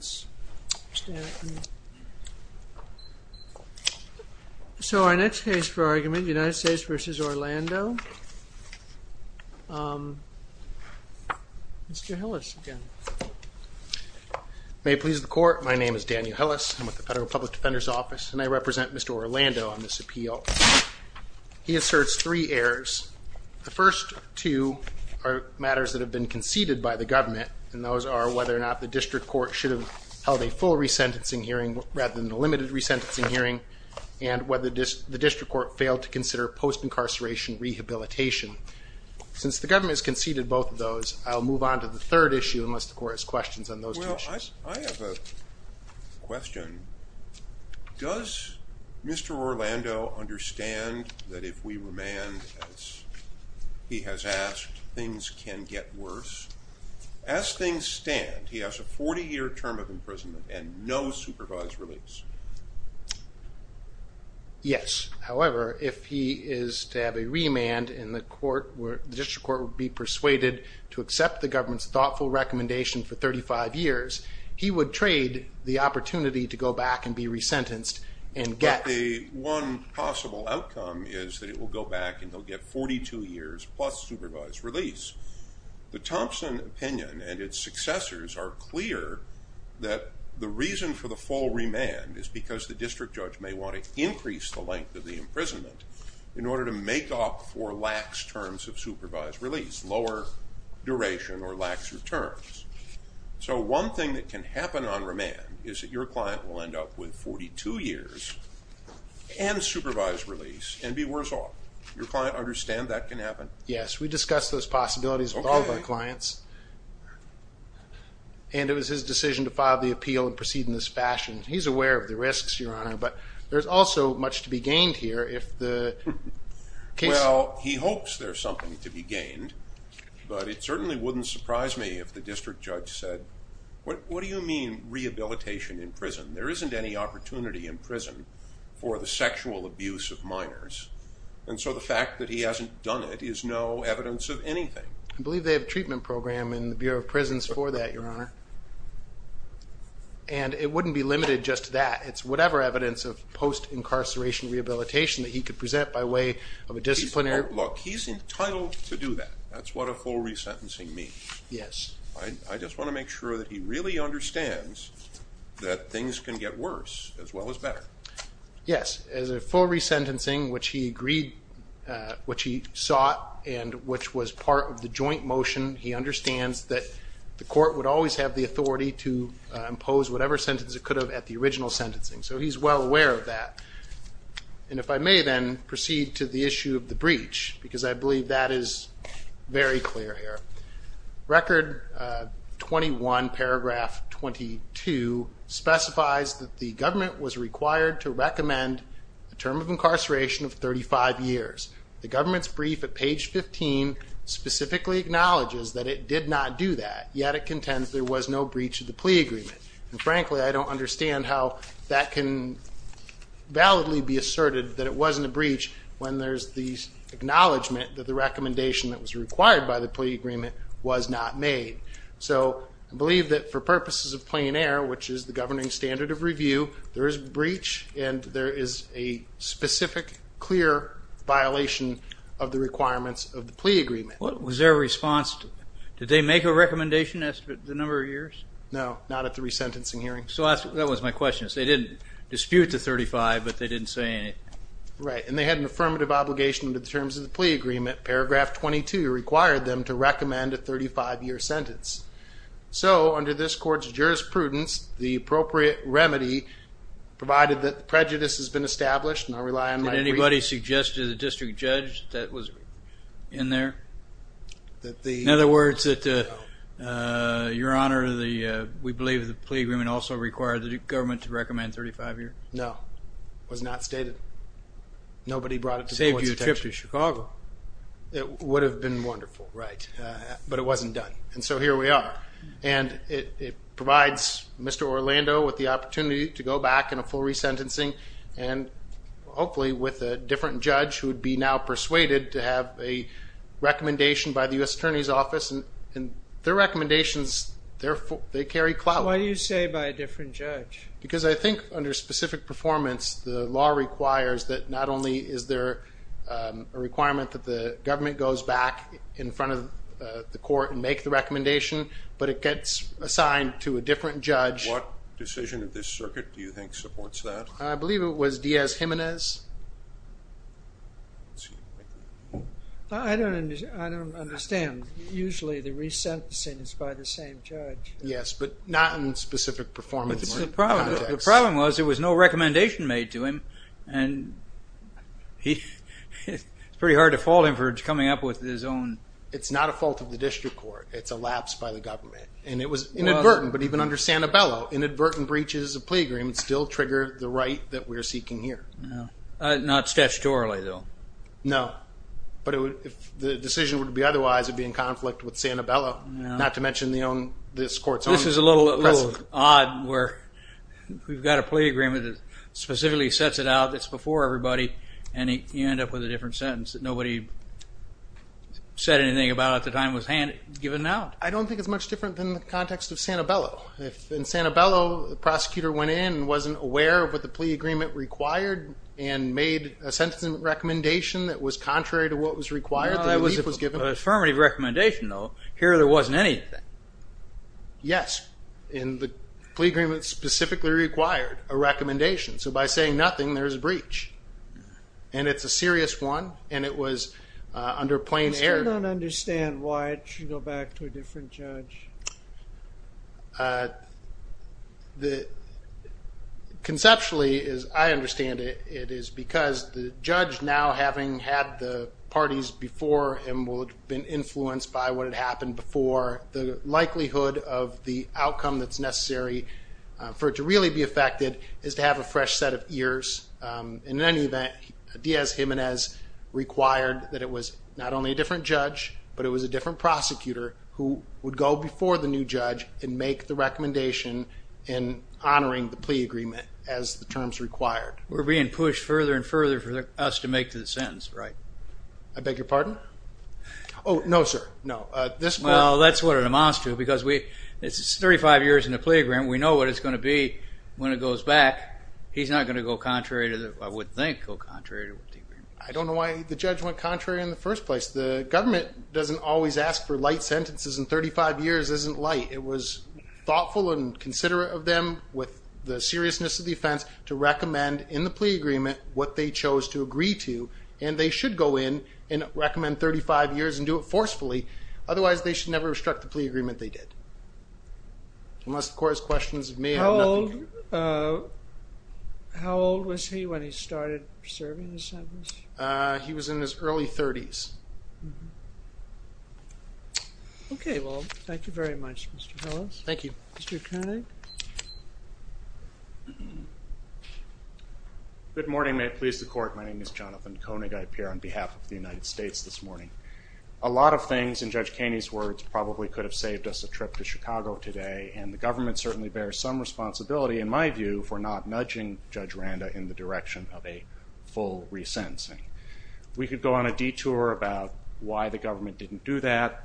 So our next case for argument, United States v. Orlando, Mr. Hillis again. May it please the Court, my name is Daniel Hillis, I'm with the Federal Public Defender's Office, and I represent Mr. Orlando on this appeal. He asserts three errors. The first two are matters that have been conceded by the government, and those are whether or not the district court should have held a full resentencing hearing rather than a limited resentencing hearing, and whether the district court failed to consider post-incarceration rehabilitation. Since the government has conceded both of those, I'll move on to the third issue unless the Court has questions on those two issues. I have a question. Does Mr. Orlando understand that if we remand, as he has asked, things can get worse? As things stand, he has a 40-year term of imprisonment and no supervised release. Yes. However, if he is to have a remand and the district court would be persuaded to accept the government's thoughtful recommendation for 35 years, he would trade the opportunity to go back and be resentenced and get... is because the district judge may want to increase the length of the imprisonment in order to make up for lax terms of supervised release, lower duration or lax returns. So one thing that can happen on remand is that your client will end up with 42 years and supervised release and be worse off. Does your client understand that can happen? Yes. We discussed those possibilities with all of our clients. And it was his decision to file the appeal and proceed in this fashion. He's aware of the risks, Your Honor, but there's also much to be gained here if the case... I believe they have a treatment program in the Bureau of Prisons for that, Your Honor. And it wouldn't be limited just to that. It's whatever evidence of post-incarceration rehabilitation that he could present by way of a disciplinary... Look, he's entitled to do that. That's what a full resentencing means. Yes. I just want to make sure that he really understands that things can get worse as well as better. Yes. As a full resentencing, which he sought and which was part of the joint motion, he understands that the court would always have the authority to impose whatever sentence it could have at the original sentencing. So he's well aware of that. And if I may then proceed to the issue of the breach, because I believe that is very clear here. Record 21, paragraph 22, specifies that the government was required to recommend a term of incarceration of 35 years. The government's brief at page 15 specifically acknowledges that it did not do that, yet it contends there was no breach of the plea agreement. And frankly, I don't understand how that can validly be asserted that it wasn't a breach when there's the acknowledgement that the recommendation that was required by the plea agreement was not made. So I believe that for purposes of plain air, which is the governing standard of review, there is breach and there is a specific, clear violation of the requirements of the plea agreement. Was there a response? Did they make a recommendation as to the number of years? No, not at the resentencing hearing. So that was my question. They didn't dispute the 35, but they didn't say anything. Right, and they had an affirmative obligation under the terms of the plea agreement. Paragraph 22 required them to recommend a 35-year sentence. So under this court's jurisprudence, the appropriate remedy, provided that prejudice has been established, and I rely on my brief... Did anybody suggest to the district judge that was in there? In other words, your honor, we believe the plea agreement also required the government to recommend 35 years? No, it was not stated. Nobody brought it to the court's attention. Save you a trip to Chicago. It would have been wonderful, right, but it wasn't done, and so here we are. And it provides Mr. Orlando with the opportunity to go back in a full resentencing, and hopefully with a different judge who would be now persuaded to have a recommendation by the U.S. Attorney's Office, and their recommendations, they carry clout. So why do you say by a different judge? Because I think under specific performance, the law requires that not only is there a requirement that the government goes back in front of the court and make the recommendation, but it gets assigned to a different judge. What decision of this circuit do you think supports that? I believe it was Diaz-Jimenez. I don't understand. Usually the resentencing is by the same judge. Yes, but not in specific performance. The problem was there was no recommendation made to him, and it's pretty hard to fault him for coming up with his own. It's not a fault of the district court. It's elapsed by the government. And it was inadvertent, but even under Santabello, inadvertent breaches of plea agreements still trigger the right that we're seeking here. Not statutorily, though. No, but if the decision were to be otherwise, it would be in conflict with Santabello, not to mention this court's own precedent. This is a little odd where we've got a plea agreement that specifically sets it out. It's before everybody, and you end up with a different sentence that nobody said anything about at the time it was given out. I don't think it's much different than the context of Santabello. In Santabello, the prosecutor went in and wasn't aware of what the plea agreement required and made a sentencing recommendation that was contrary to what was required. It was an affirmative recommendation, though. Here there wasn't anything. Yes. And the plea agreement specifically required a recommendation. So by saying nothing, there's a breach. And it's a serious one, and it was under plain error. I still don't understand why it should go back to a different judge. Conceptually, as I understand it, it is because the judge, now having had the parties before him, would have been influenced by what had happened before. The likelihood of the outcome that's necessary for it to really be affected is to have a fresh set of ears. In any event, Diaz-Jimenez required that it was not only a different judge, but it was a different prosecutor who would go before the new judge and make the recommendation in honoring the plea agreement as the terms required. We're being pushed further and further for us to make the sentence right. I beg your pardon? Oh, no, sir. No. Well, that's what it amounts to, because it's 35 years in the plea agreement. We know what it's going to be when it goes back. He's not going to go contrary to the, I would think, go contrary to the agreement. I don't know why the judge went contrary in the first place. The government doesn't always ask for light sentences, and 35 years isn't light. It was thoughtful and considerate of them, with the seriousness of the offense, to recommend in the plea agreement what they chose to agree to. And they should go in and recommend 35 years and do it forcefully. Otherwise, they should never have struck the plea agreement they did. Unless the court has questions of me. How old was he when he started serving his sentence? He was in his early 30s. Okay. Well, thank you very much, Mr. Hellis. Thank you. Mr. Koenig? Good morning. May it please the Court. My name is Jonathan Koenig. I appear on behalf of the United States this morning. A lot of things, in Judge Kaney's words, probably could have saved us a trip to Chicago today, and the government certainly bears some responsibility, in my view, for not nudging Judge Randa in the direction of a full resentencing. We could go on a detour about why the government didn't do that.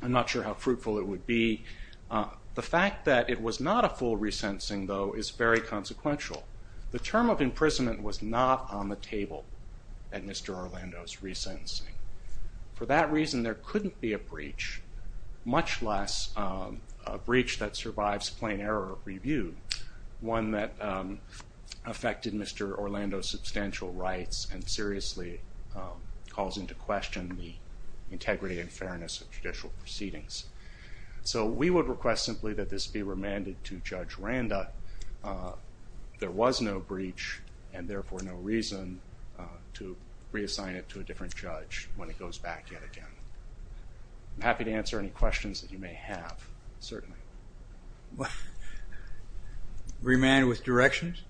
I'm not sure how fruitful it would be. The fact that it was not a full resentencing, though, is very consequential. The term of imprisonment was not on the table at Mr. Orlando's resentencing. For that reason, there couldn't be a breach, much less a breach that survives plain error of review, one that affected Mr. Orlando's substantial rights and seriously calls into question the integrity and fairness of judicial proceedings. So we would request simply that this be remanded to Judge Randa. There was no breach, and therefore no reason to reassign it to a different judge when it goes back yet again. I'm happy to answer any questions that you may have, certainly. Remand with directions?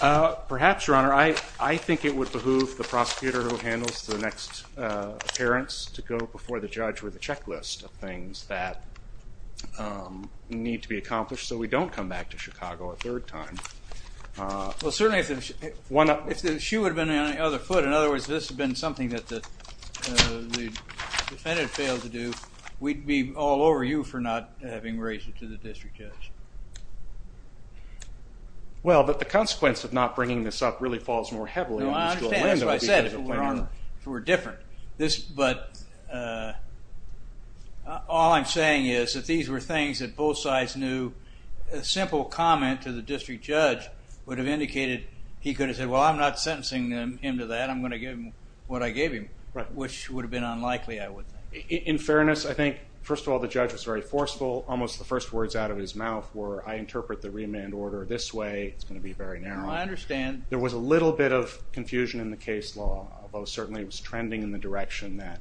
Perhaps, Your Honor. I think it would behoove the prosecutor who handles the next appearance to go before the judge with a checklist of things that need to be accomplished so we don't come back to Chicago a third time. Well, certainly, if the shoe had been on any other foot, in other words, if this had been something that the defendant failed to do, we'd be all over you for not having raised it to the district judge. Well, but the consequence of not bringing this up really falls more heavily on Mr. Orlando. That's what I said, if it were different. But all I'm saying is that these were things that both sides knew. A simple comment to the district judge would have indicated he could have said, well, I'm not sentencing him to that. I'm going to give him what I gave him, which would have been unlikely, I would think. In fairness, I think, first of all, the judge was very forceful. Almost the first words out of his mouth were, I interpret the remand order this way. It's going to be very narrow. I understand. There was a little bit of confusion in the case law, although certainly it was trending in the direction that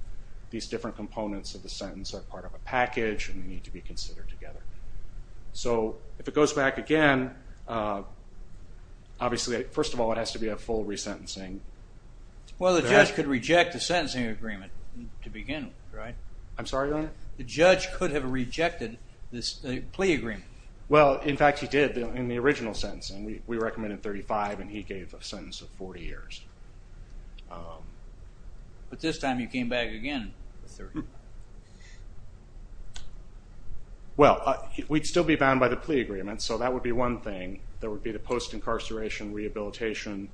these different components of the sentence are part of a package and need to be considered together. So if it goes back again, obviously, first of all, it has to be a full resentencing. Well, the judge could reject the sentencing agreement to begin with, right? I'm sorry, Leonard? The judge could have rejected this plea agreement. Well, in fact, he did in the original sentencing. We recommended 35, and he gave a sentence of 40 years. But this time he came back again with 30. Well, we'd still be bound by the plea agreement, so that would be one thing. There would be the post-incarceration rehabilitation.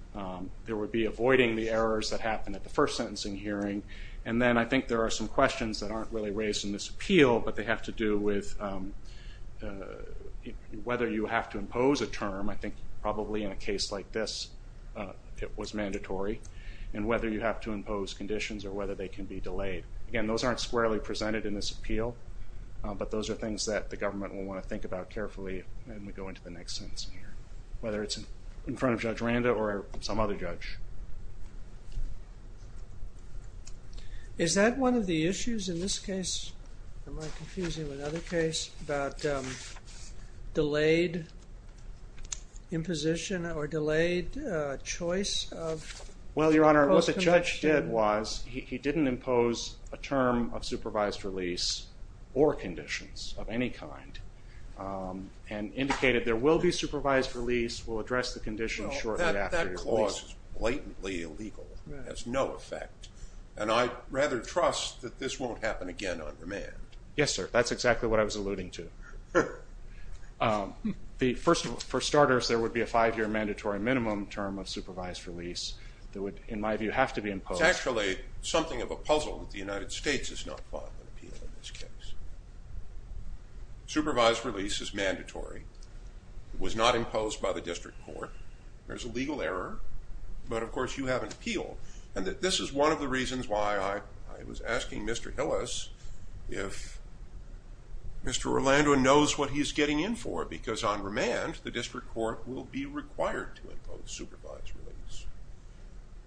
There would be avoiding the errors that happened at the first sentencing hearing. And then I think there are some questions that aren't really raised in this appeal, but they have to do with whether you have to impose a term. I think probably in a case like this it was mandatory, and whether you have to impose conditions or whether they can be delayed. Again, those aren't squarely presented in this appeal, but those are things that the government will want to think about carefully when we go into the next sentence, whether it's in front of Judge Randa or some other judge. Is that one of the issues in this case? Am I confusing with another case about delayed imposition or delayed choice of post-incarceration? Well, Your Honor, what the judge did was he didn't impose a term of supervised release or conditions of any kind and indicated there will be supervised release. We'll address the conditions shortly after your release. This is blatantly illegal. It has no effect. And I'd rather trust that this won't happen again on remand. Yes, sir. That's exactly what I was alluding to. First of all, for starters, there would be a five-year mandatory minimum term of supervised release that would, in my view, have to be imposed. It's actually something of a puzzle that the United States has not fought an appeal in this case. Supervised release is mandatory. It was not imposed by the district court. There's a legal error. But, of course, you have an appeal. And this is one of the reasons why I was asking Mr. Hillis if Mr. Orlando knows what he's getting in for because on remand the district court will be required to impose supervised release.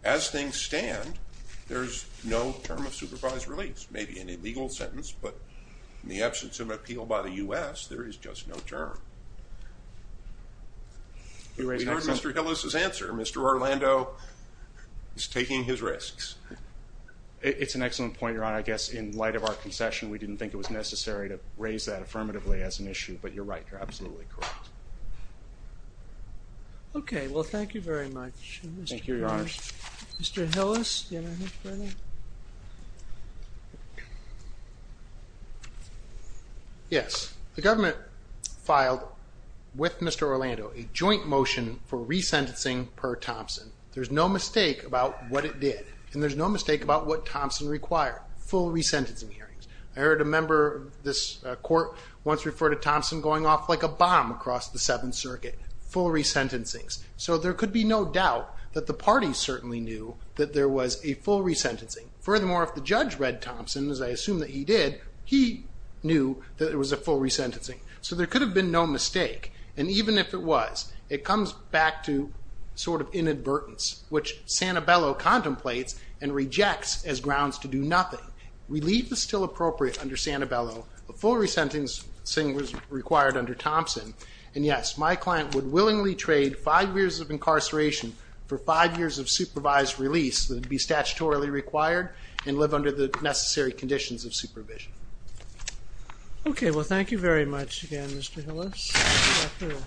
As things stand, there's no term of supervised release. Maybe an illegal sentence, but in the absence of an appeal by the U.S., there is just no term. We heard Mr. Hillis' answer. Mr. Orlando is taking his risks. It's an excellent point, Your Honor. I guess in light of our concession, we didn't think it was necessary to raise that affirmatively as an issue. But you're right. You're absolutely correct. Okay. Well, thank you very much. Thank you, Your Honor. Mr. Hillis, do you have anything further? Yes. The government filed with Mr. Orlando a joint motion for resentencing per Thompson. There's no mistake about what it did. And there's no mistake about what Thompson required, full resentencing hearings. I heard a member of this court once refer to Thompson going off like a bomb across the Seventh Circuit, full resentencings. So there could be no doubt that the parties certainly knew that there was a full resentencing. Furthermore, if the judge read Thompson, as I assume that he did, he knew that it was a full resentencing. So there could have been no mistake. And even if it was, it comes back to sort of inadvertence, which Santabello contemplates and rejects as grounds to do nothing. Relief is still appropriate under Santabello. A full resentencing was required under Thompson. And, yes, my client would willingly trade five years of incarceration for five years of supervised release that would be statutorily required and live under the necessary conditions of supervision. Okay. Well, thank you very much again, Mr. Hillis.